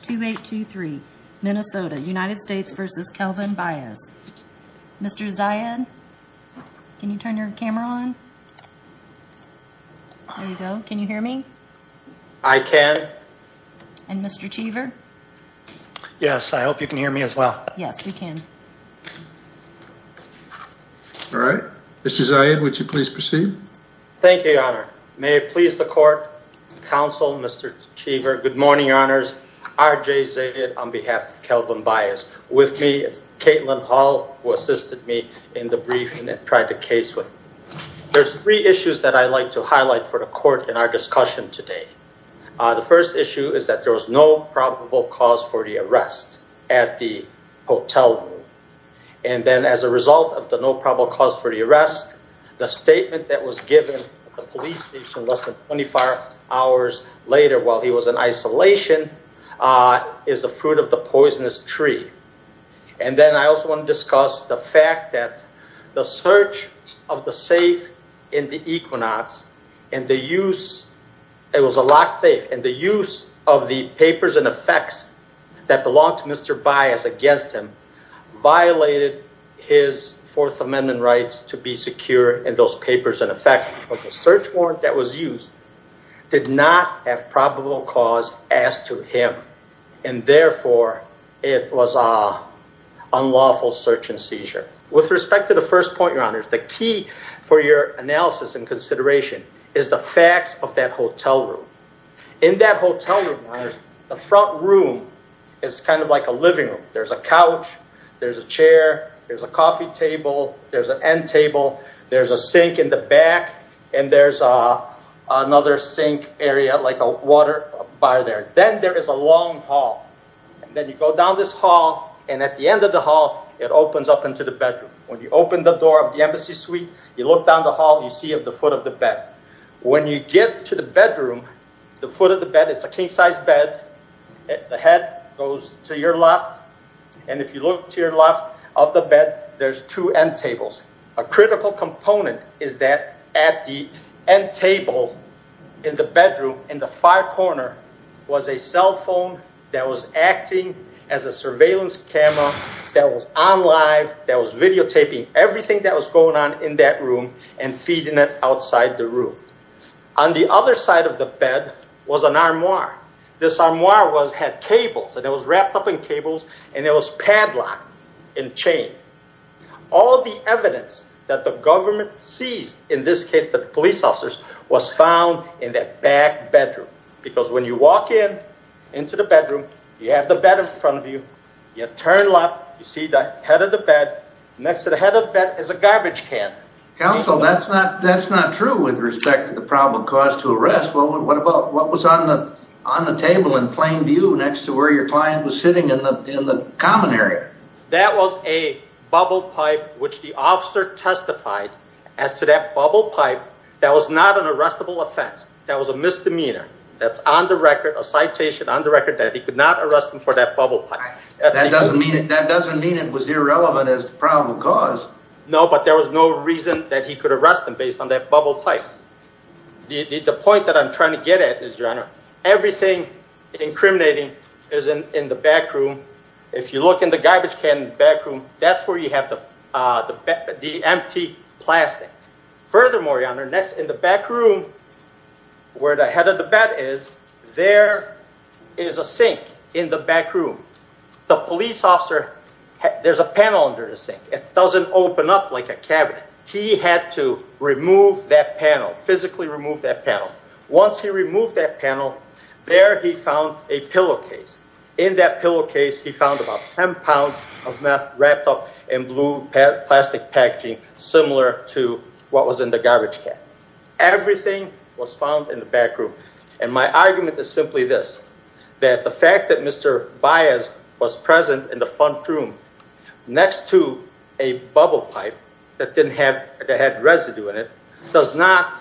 2823 Minnesota United States versus Kelvin Baez. Mr. Zayed, can you turn your camera on? There you go. Can you hear me? I can. And Mr. Cheever? Yes, I hope you can hear me as well. Yes, we can. All right. Mr. Zayed, would you please proceed? Thank you, Your Honor. May it please the court, counsel, Mr. Cheever. Good morning, Your Honors. R.J. Zayed on behalf of Kelvin Baez. With me is Caitlin Hall, who assisted me in the briefing and tried the case with me. There's three issues that I'd like to highlight for the court in our discussion today. The first issue is that there was no probable cause for the arrest at the hotel room. And then as a result of the no probable cause for the arrest, the statement that was given at the police station less than 24 hours later while he was in isolation is the fruit of the poisonous tree. And then I also want to discuss the fact that the search of the safe in the Equinox and the use, it was a locked safe, and the use of the papers and effects that belonged to Mr. Baez against him violated his Fourth Amendment rights to be secure in those papers and effects. Because the search warrant that was used did not have probable cause as to him. And therefore, it was an unlawful search and seizure. With respect to the first point, Your Honors, the key for your analysis and consideration is the facts of that hotel room. In that hotel room, Your Honors, the front room is kind of like a living room. There's a couch, there's a chair, there's a coffee table, there's an end table, there's a sink in the back, and there's another sink area like a water bar there. Then there is a long hall. Then you go down this hall, and at the end of the hall, it opens up into the bedroom. When you open the door of the embassy suite, you look down the hall, you see the foot of the bed. When you get to the bedroom, the foot of the bed, it's a king-sized bed. The head goes to your left, and if you look to your left of the bed, there's two end tables. A critical component is that at the end table in the bedroom in the far corner was a cell phone that was acting as a surveillance camera that was on live, that was videotaping everything that was going on in that room and feeding it outside the room. On the other side of the bed was an armoire. This armoire had cables, and it was wrapped up in cables, and it was padlocked and chained. All the evidence that the government seized, in this case the police officers, was found in that back bedroom. Because when you walk in into the bedroom, you have the bed in front of you, you turn left, you see the head of the bed. Next to the head of the bed is a garbage can. Counsel, that's not true with respect to the probable cause to arrest. What about what was on the table in plain view next to where your client was sitting in the common area? That was a bubble pipe which the officer testified as to that bubble pipe. That was not an arrestable offense. That was a misdemeanor. That's on the record, a citation on the record that he could not arrest him for that bubble pipe. That doesn't mean it was irrelevant as the probable cause. No, but there was no reason that he could arrest him based on that bubble pipe. The point that I'm trying to get at is, Your Honor, everything incriminating is in the back room. If you look in the garbage can in the back room, that's where you have the empty plastic. Furthermore, Your Honor, next in the back room where the head of the bed is, there is a sink in the back room. The police officer, there's a panel under the sink. It doesn't open up like a cabinet. He had to physically remove that panel. Once he removed that panel, there he found a pillowcase. In that pillowcase, he found about 10 pounds of meth wrapped up in blue plastic packaging similar to what was in the garbage can. Everything was found in the back room. My argument is simply this, that the fact that Mr. Baez was present in the front room next to a bubble pipe that didn't have, that had residue in it, does not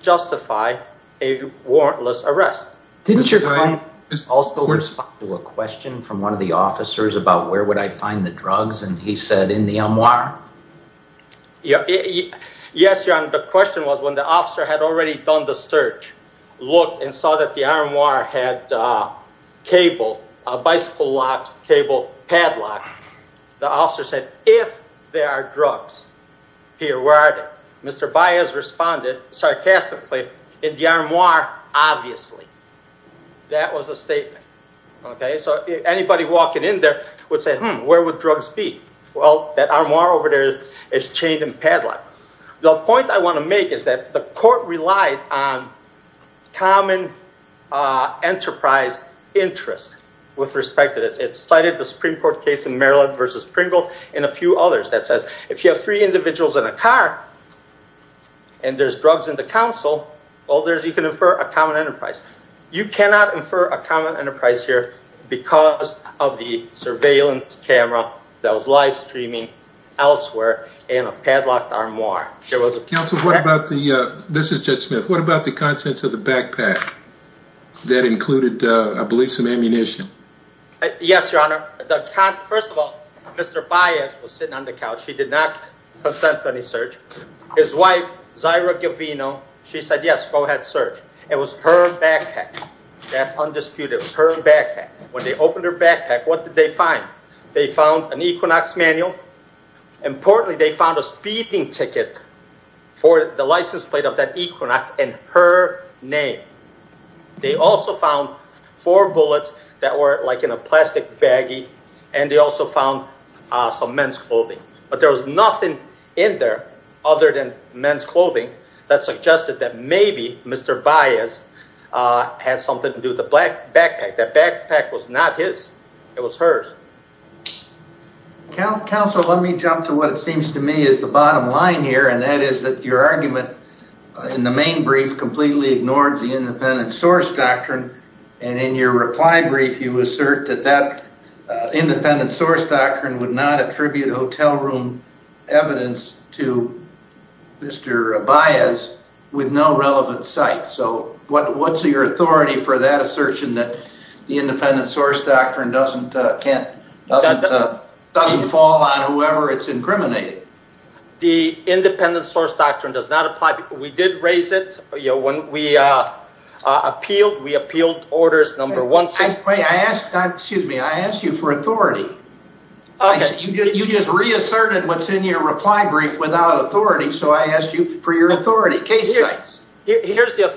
justify a warrantless arrest. Didn't your client also respond to a question from one of the officers about where would I find the drugs? And he said, in the armoire? Yes, Your Honor, the question was when the officer had already done the search, looked and saw that the armoire had a cable, a bicycle cable padlock, the officer said, if there are drugs here, where are they? Mr. Baez responded sarcastically, in the armoire, obviously. That was the statement. Okay, so anybody walking in there would say, hmm, where would drugs be? Well, that armoire over there is chained and padlocked. The point I want to make is that the court relied on common enterprise interest with respect to this. It cited the Supreme Court case in Maryland versus Pringle and a few others that says, if you have three individuals in a car and there's drugs in the council, all there is, you can infer a common enterprise. You cannot infer a common enterprise here because of the armoire. Counsel, this is Judge Smith. What about the contents of the backpack that included, I believe, some ammunition? Yes, Your Honor. First of all, Mr. Baez was sitting on the couch. He did not consent to any search. His wife, Zyra Guilvino, she said, yes, go ahead, search. It was her backpack. That's undisputed. It was her backpack. When they opened her backpack, what did they find? They found an Equinox manual. Importantly, they found a speeding ticket for the license plate of that Equinox in her name. They also found four bullets that were like in a plastic baggie, and they also found some men's clothing. But there was nothing in there other than men's clothing that suggested that maybe Mr. Baez had something to do with the backpack. That backpack was not his. It was hers. Counsel, let me jump to what it seems to me is the bottom line here, and that is that your argument in the main brief completely ignored the independent source doctrine, and in your reply brief, you assert that that independent source doctrine would not attribute hotel room evidence to Mr. Baez with no relevant site. So what's your authority for that assertion that the independent source doctrine doesn't fall on whoever it's incriminated? The independent source doctrine does not apply. We did raise it when we appealed. We appealed orders number one. Wait, excuse me. I asked you for authority. You just reasserted what's in your reply brief without authority, so I asked you for your authority. Here's the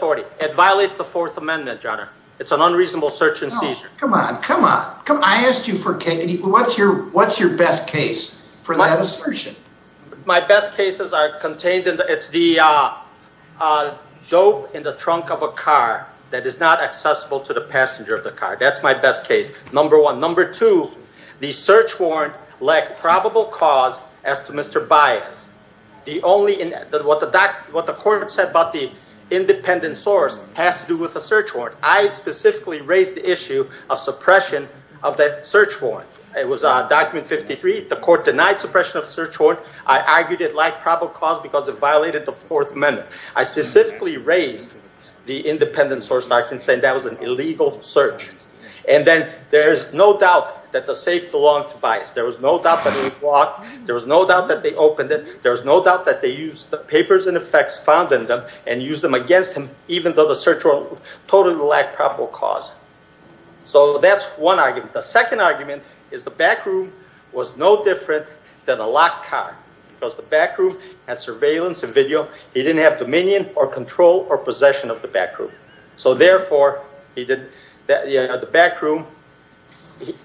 amendment, Your Honor. It's an unreasonable search and seizure. Come on. Come on. Come on. I asked you for... What's your best case for that assertion? My best cases are contained in the... It's the dope in the trunk of a car that is not accessible to the passenger of the car. That's my best case, number one. Number two, the search warrant lacked probable cause as to Mr. Baez. The only... What the court said about the independent source has to do with the search warrant. I specifically raised the issue of suppression of that search warrant. It was document 53. The court denied suppression of the search warrant. I argued it lacked probable cause because it violated the fourth amendment. I specifically raised the independent source doctrine saying that was an illegal search. And then there is no doubt that the safe belonged to Baez. There was no doubt that it was locked. There was no doubt that they opened it. There was no doubt that they used the papers and effects found in them and used them against him even though the search warrant totally lacked probable cause. So that's one argument. The second argument is the back room was no different than a locked car because the back room had surveillance and video. He didn't have dominion or control or possession of the back room. So therefore, he didn't... The back room,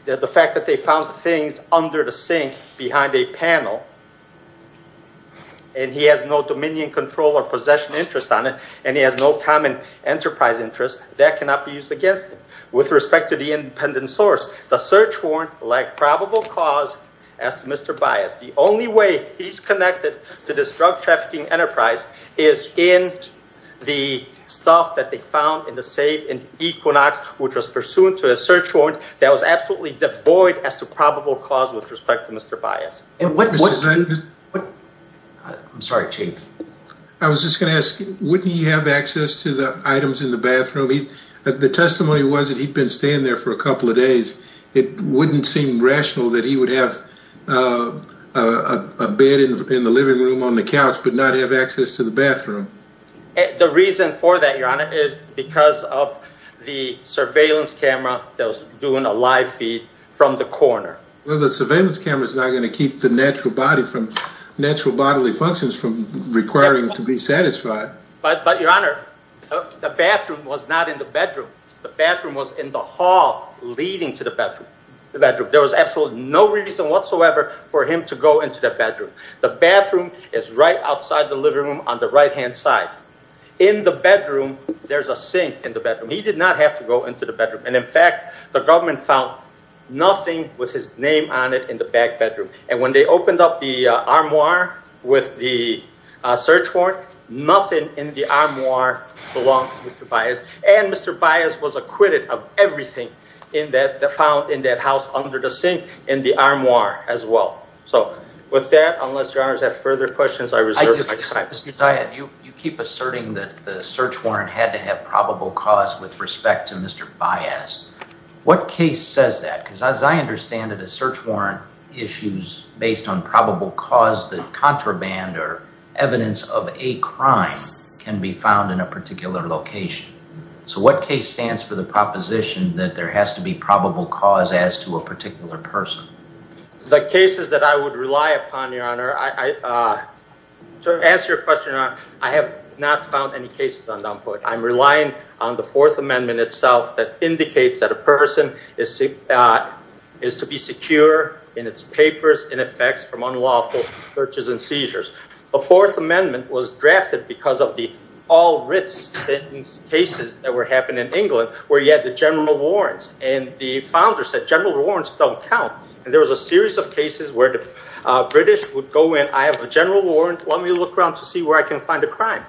the fact that they found things under the sink behind a panel and he has no dominion control or possession interest on it and he has no common enterprise interest, that cannot be used against him. With respect to the independent source, the search warrant lacked probable cause as to Mr. Baez. The only way he's connected to this drug trafficking enterprise is in the stuff that they found in the safe in Equinox, which was pursuant to a search warrant that was absolutely devoid as to probable cause with respect to Mr. Baez. I'm sorry, Chief. I was just going to ask, wouldn't he have access to the items in the bathroom? The testimony was that he'd been staying there for a couple of days. It wouldn't seem rational that he would have a bed in the living room on the couch but not have access to the bathroom. The reason for that, Your Honor, is because of the surveillance camera that was doing a live feed from the corner. Well, the surveillance camera is not going to keep the natural body from... natural bodily functions from requiring to be satisfied. But Your Honor, the bathroom was not in the bedroom. The bathroom was in the hall leading to the bathroom. There was absolutely no reason whatsoever for him to go into the bedroom. The bathroom is right outside the living room on the right-hand side. In the bedroom, there's a sink in the bedroom. He did not have to go into the bedroom. And in fact, the government found nothing with his name on it in the back bedroom. And when they opened up the armoire with the search warrant, nothing in the armoire belonged to Mr. Baez. And Mr. Baez was acquitted of everything found in that house under the sink in the armoire as well. So with that, unless Your Honors have further questions, I reserve my time. Mr. Tyatt, you keep asserting that the search warrant had to have probable cause with respect to Mr. Baez. What case says that? Because as I understand it, a search warrant issues based on probable cause that contraband or evidence of a crime can be found in a particular location. So what case stands for the proposition that there has to be probable cause as to a particular person? The cases that I would rely upon, Your Honor, to answer your question, I have not found any cases on Dunport. I'm relying on the Fourth Amendment itself that indicates that a person is to be secure in its papers in effects from unlawful searches and seizures. The Fourth Amendment was drafted because of the all-written cases that were happening in the founders that general warrants don't count. And there was a series of cases where the British would go in, I have a general warrant, let me look around to see where I can find a crime.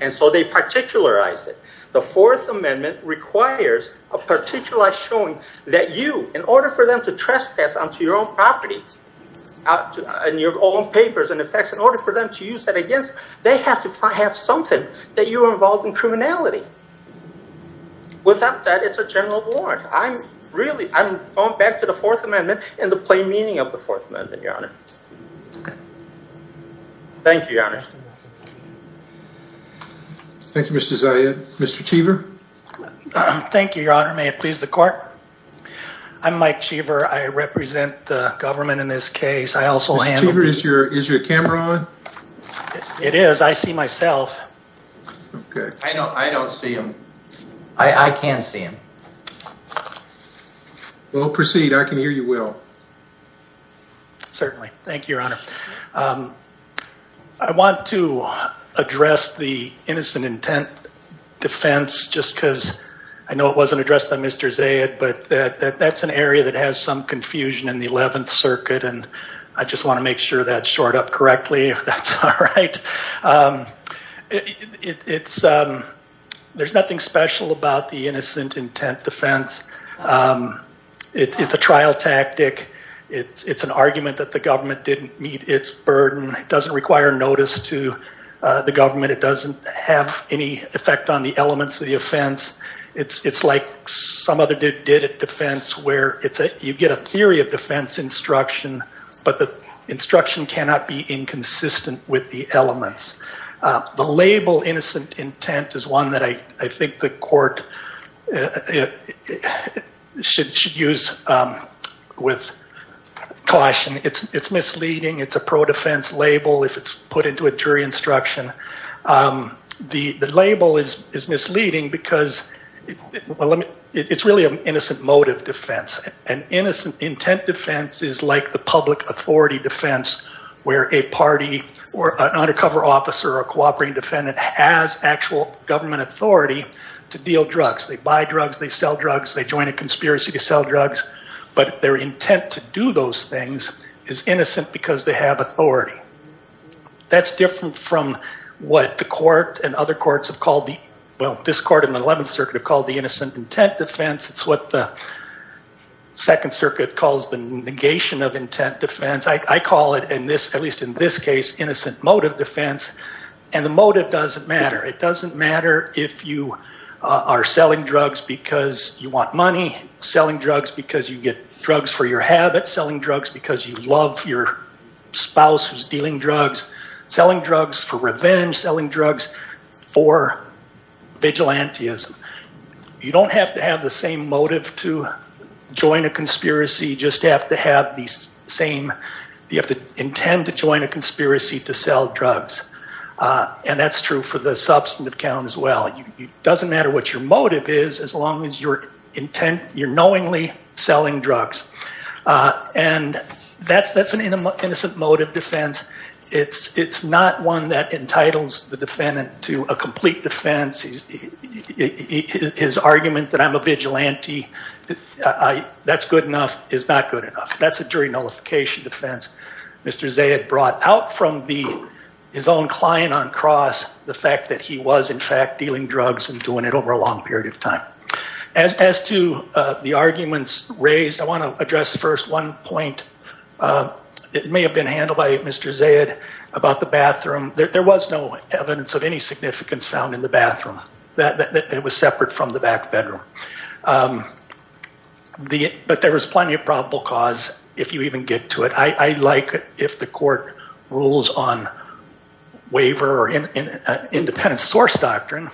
And so they particularized it. The Fourth Amendment requires a particular showing that you, in order for them to trespass onto your own properties and your own papers and effects, in order for them to use that against, they have to have something that you are involved in really. I'm going back to the Fourth Amendment and the plain meaning of the Fourth Amendment, Your Honor. Thank you, Your Honor. Thank you, Mr. Zayed. Mr. Cheever. Thank you, Your Honor. May it please the court. I'm Mike Cheever. I represent the government in this case. I also handle... Mr. Cheever, is your camera on? It is. I see myself. Okay. I don't see him. I can see him. Well, proceed. I can hear you well. Certainly. Thank you, Your Honor. I want to address the innocent intent defense just because I know it wasn't addressed by Mr. Zayed, but that's an area that has some confusion in the Eleventh Circuit. And I just want to make sure that's shored up correctly, if that's all right. It's... There's nothing special about the innocent intent defense. It's a trial tactic. It's an argument that the government didn't meet its burden. It doesn't require notice to the government. It doesn't have any effect on the elements of the offense. It's like some other defense where you get a theory of defense instruction, but the instruction cannot be inconsistent with the innocent intent is one that I think the court should use with caution. It's misleading. It's a pro-defense label if it's put into a jury instruction. The label is misleading because it's really an innocent motive defense. An innocent intent defense is like the public officer or cooperating defendant has actual government authority to deal drugs. They buy drugs. They sell drugs. They join a conspiracy to sell drugs, but their intent to do those things is innocent because they have authority. That's different from what the court and other courts have called the... Well, this court in the Eleventh Circuit have called the innocent intent defense. It's what the Second Circuit calls the negation of intent defense. I call it, at least in this case, innocent motive defense, and the motive doesn't matter. It doesn't matter if you are selling drugs because you want money, selling drugs because you get drugs for your habits, selling drugs because you love your spouse who's dealing drugs, selling drugs for revenge, selling drugs for vigilantism. You don't have to have the same motive to join a conspiracy. You have to intend to join a conspiracy to sell drugs. That's true for the substantive count as well. It doesn't matter what your motive is as long as you're knowingly selling drugs. That's an innocent motive defense. It's not one that entitles the defendant to a complete defense. His argument that I'm a vigilante, that's good enough, is not good enough. That's a jury nullification defense. Mr. Zayed brought out from his own client on cross the fact that he was, in fact, dealing drugs and doing it over a long period of time. As to the arguments raised, I want to address first one point. It may have been handled by Mr. Zayed about the bathroom. There was no evidence of any significance found in the bathroom. It was separate from the back bedroom. But there was plenty of probable cause if you even get to it. I like if the court rules on waiver or independent source doctrine.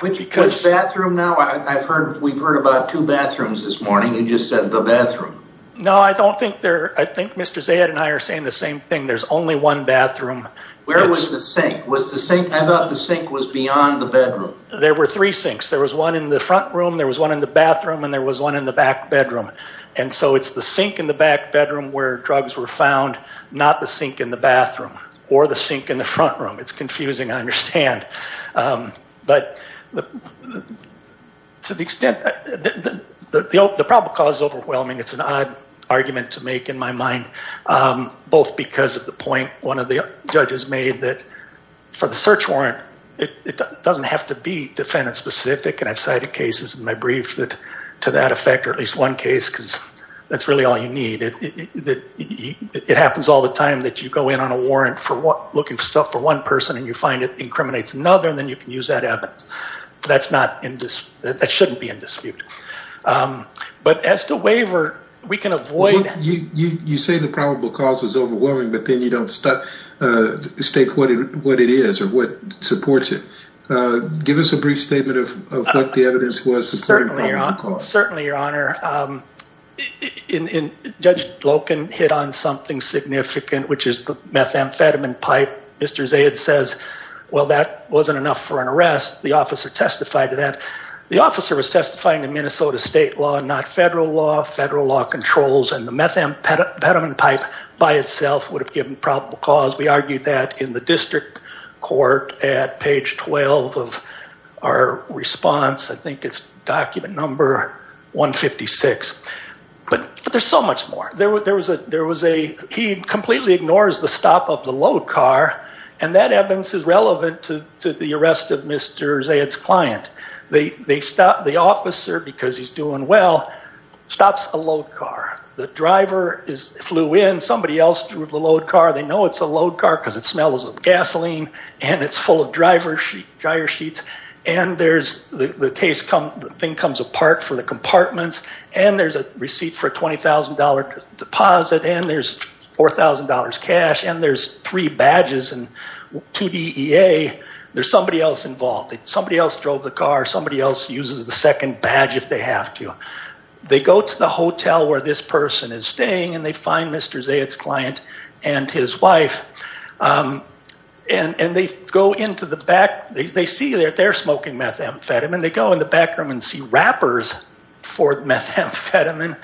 Which bathroom now? I've heard we've heard about two bathrooms this morning. You just said the bathroom. No, I think Mr. Zayed and I are saying the same thing. There's only one bathroom. Where was the sink? I thought the sink was beyond the bedroom. There were three sinks. There was one in the front room, there was one in the bathroom, and there was one in the back bedroom. So it's the sink in the back bedroom where drugs were found, not the sink in the bathroom or the sink in the front room. It's confusing, I understand. But to the extent, the probable cause is overwhelming. It's an odd argument to make in my mind. Both because of the point one of the judges made that for the search warrant, it doesn't have to be defendant specific. And I've cited cases in my brief that to that effect, or at least one case, because that's really all you need. It happens all the time that you go in on a warrant for looking for stuff for one person and you find it incriminates another, and then you can use that evidence. That shouldn't be in dispute. But as to waiver, we can avoid... You say the probable cause was overwhelming, but then you don't state what it is or what supports it. Give us a brief statement of what the evidence was supporting probable cause. Certainly, Your Honor. Judge Loken hit on something significant, which is the methamphetamine pipe. Mr. Zaid says, well, that wasn't enough for an arrest. The officer testified to that. The officer was testifying to Minnesota state law, not federal law. Federal law controls and the methamphetamine pipe by itself would have given probable cause. We argued that in the page 12 of our response. I think it's document number 156. But there's so much more. There was a... He completely ignores the stop of the load car, and that evidence is relevant to the arrest of Mr. Zaid's client. The officer, because he's doing well, stops a load car. The driver flew in. Somebody else drove the load car. They know it's a load car because it smells of gasoline, and it's full of dryer sheets, and the thing comes apart for the compartments, and there's a receipt for a $20,000 deposit, and there's $4,000 cash, and there's three badges and two DEA. There's somebody else involved. Somebody else drove the car. Somebody else uses the second badge if they have to. They go to the hotel where this person is staying, and they find Mr. Zaid's client and his wife, and they go into the back. They see that they're smoking methamphetamine. They go in the back room and see wrappers for methamphetamine.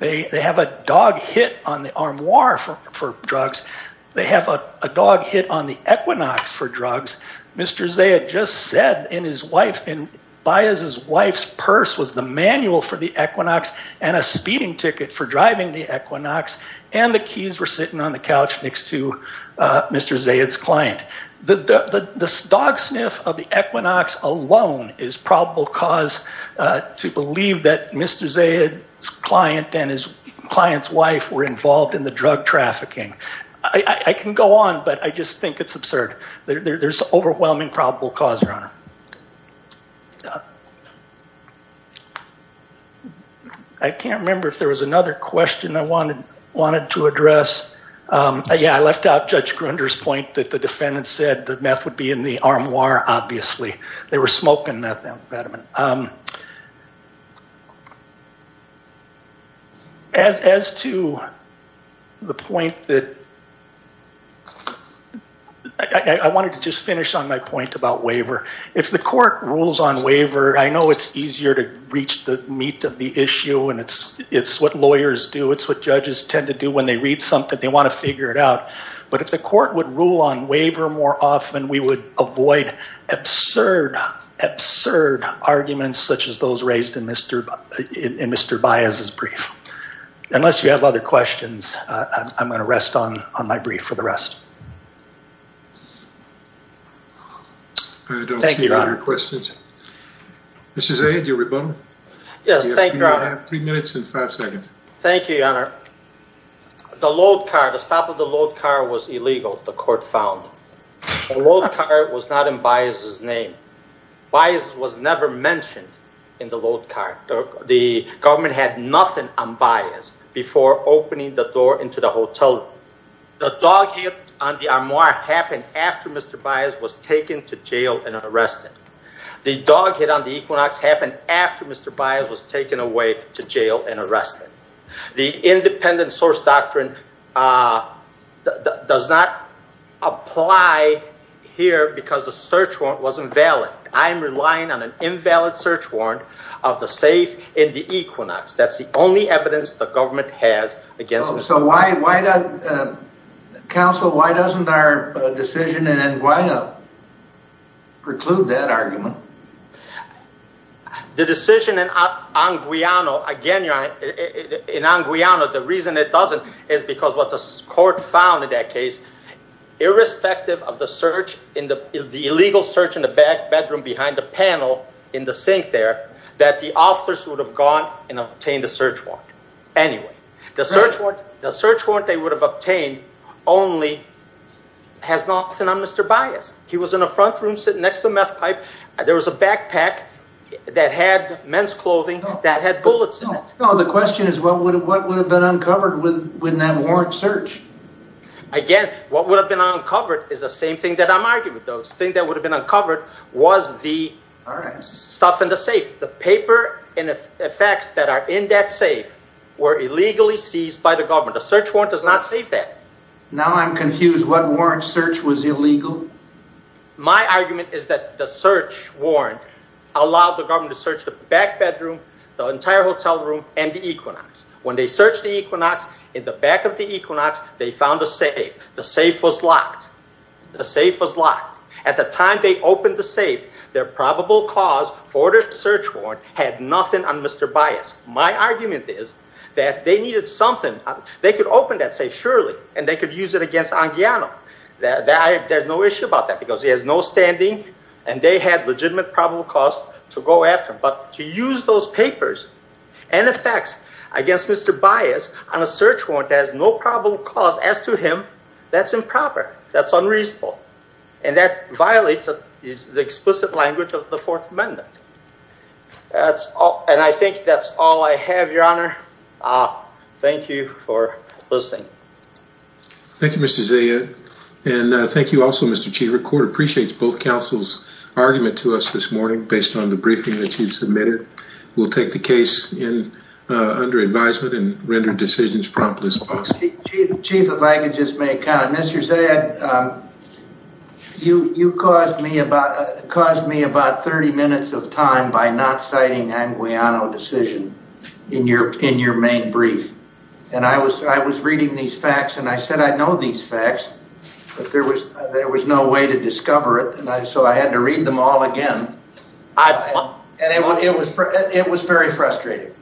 They have a dog hit on the armoire for drugs. They have a dog hit on the Equinox for drugs. Mr. Zaid just said in his wife, in Baez's wife's purse was the manual for the Equinox and a speeding ticket for driving the Equinox sitting on the couch next to Mr. Zaid's client. The dog sniff of the Equinox alone is probable cause to believe that Mr. Zaid's client and his client's wife were involved in the drug trafficking. I can go on, but I just think it's absurd. There's overwhelming probable cause, Your Honor. I can't remember if there was another question I wanted to address. Yeah, I left out Judge Grunder's point that the defendant said that meth would be in the armoire, obviously. They were smoking methamphetamine. As to the point that, I wanted to just finish on my point about waiver. If the court rules on waiver, I know it's easier to reach the meat of the issue and it's what lawyers do. It's what judges tend to do when they read something. They want to figure it out. But if the court rules on waiver, I think it's absurd arguments such as those raised in Mr. Baez's brief. Unless you have other questions, I'm going to rest on my brief for the rest. I don't see any other questions. Mr. Zaid, your rebuttal. Yes, thank you, Your Honor. You have three minutes and five seconds. Thank you, Your Honor. The load car, the stop of the load car was illegal, the court found. The load car was not in Baez's name. Baez was never mentioned in the load car. The government had nothing on Baez before opening the door into the hotel. The dog hit on the armoire happened after Mr. Baez was taken to jail and arrested. The dog hit on the Equinox happened after Mr. Baez was taken away to jail and arrested. The independent source doctrine does not apply here because the search warrant wasn't valid. I'm relying on an invalid search warrant of the safe in the Equinox. That's the only evidence the government has against Mr. Baez. Counsel, why doesn't our decision in En Guaido the reason it doesn't is because what the court found in that case, irrespective of the search in the illegal search in the back bedroom behind the panel in the sink there, that the officers would have gone and obtained a search warrant. Anyway, the search warrant they would have obtained only has nothing on Mr. Baez. He was in the front room sitting next to the meth pipe. There was a backpack that had men's clothing that had bullets in it. The question is what would have been uncovered with that warrant search? Again, what would have been uncovered is the same thing that I'm arguing with. The thing that would have been uncovered was the stuff in the safe. The paper and the facts that are in that safe were illegally seized by the government. A search warrant does not save that. Now I'm confused. What warrant search was illegal? My argument is that the search warrant allowed the government to search the back bedroom, the entire hotel room, and the equinox. When they searched the equinox, in the back of the equinox, they found a safe. The safe was locked. The safe was locked. At the time they opened the safe, their probable cause for the search warrant had nothing on Mr. Baez. My argument is that they needed something. They could open that safe surely and they could use it against En Guaido. There's no issue about that because he has no standing and they had legitimate probable cause to go after him. But to use those papers and the facts against Mr. Baez on a search warrant has no probable cause. As to him, that's improper. That's unreasonable. And that violates the explicit language of the Fourth Amendment. And I think that's all I have, Your Honor. Thank you for listening. Thank you, Mr. Zia. And thank you also, Mr. Chief. The court appreciates both counsel's argument to us this morning based on the briefing that you've submitted. We'll take the case under advisement and render decisions promptly as possible. Chief, if I could just make a comment. Mr. Zia, you caused me about 30 minutes of time by not citing En Guaido decision in your main brief. And I was reading these facts and I said I know these facts, but there was no way to discover it. And so I had to read them all again. It was very frustrating.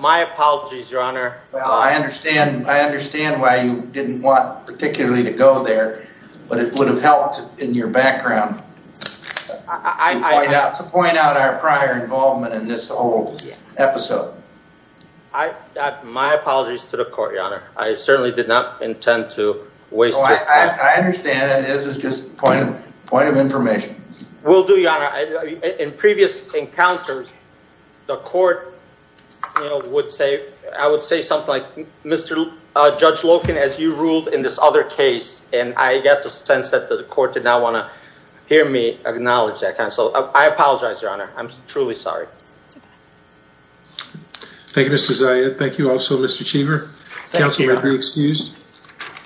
My apologies, Your Honor. Well, I understand why you didn't want particularly to go there, but it would have helped in your background to point out our prior involvement in this whole episode. My apologies to the court, Your Honor. I certainly did not intend to waste your time. I understand. This is just a point of information. Will do, Your Honor. In previous encounters, the court, you know, would say, I would say something like, Mr. Judge Loken, as you ruled in this other case. And I get the sense that the court did not want to hear me acknowledge that. So I apologize, Your Honor. I'm truly sorry. Thank you, Mr. Zia. Thank you also, Mr. Cheever. Council may be excused.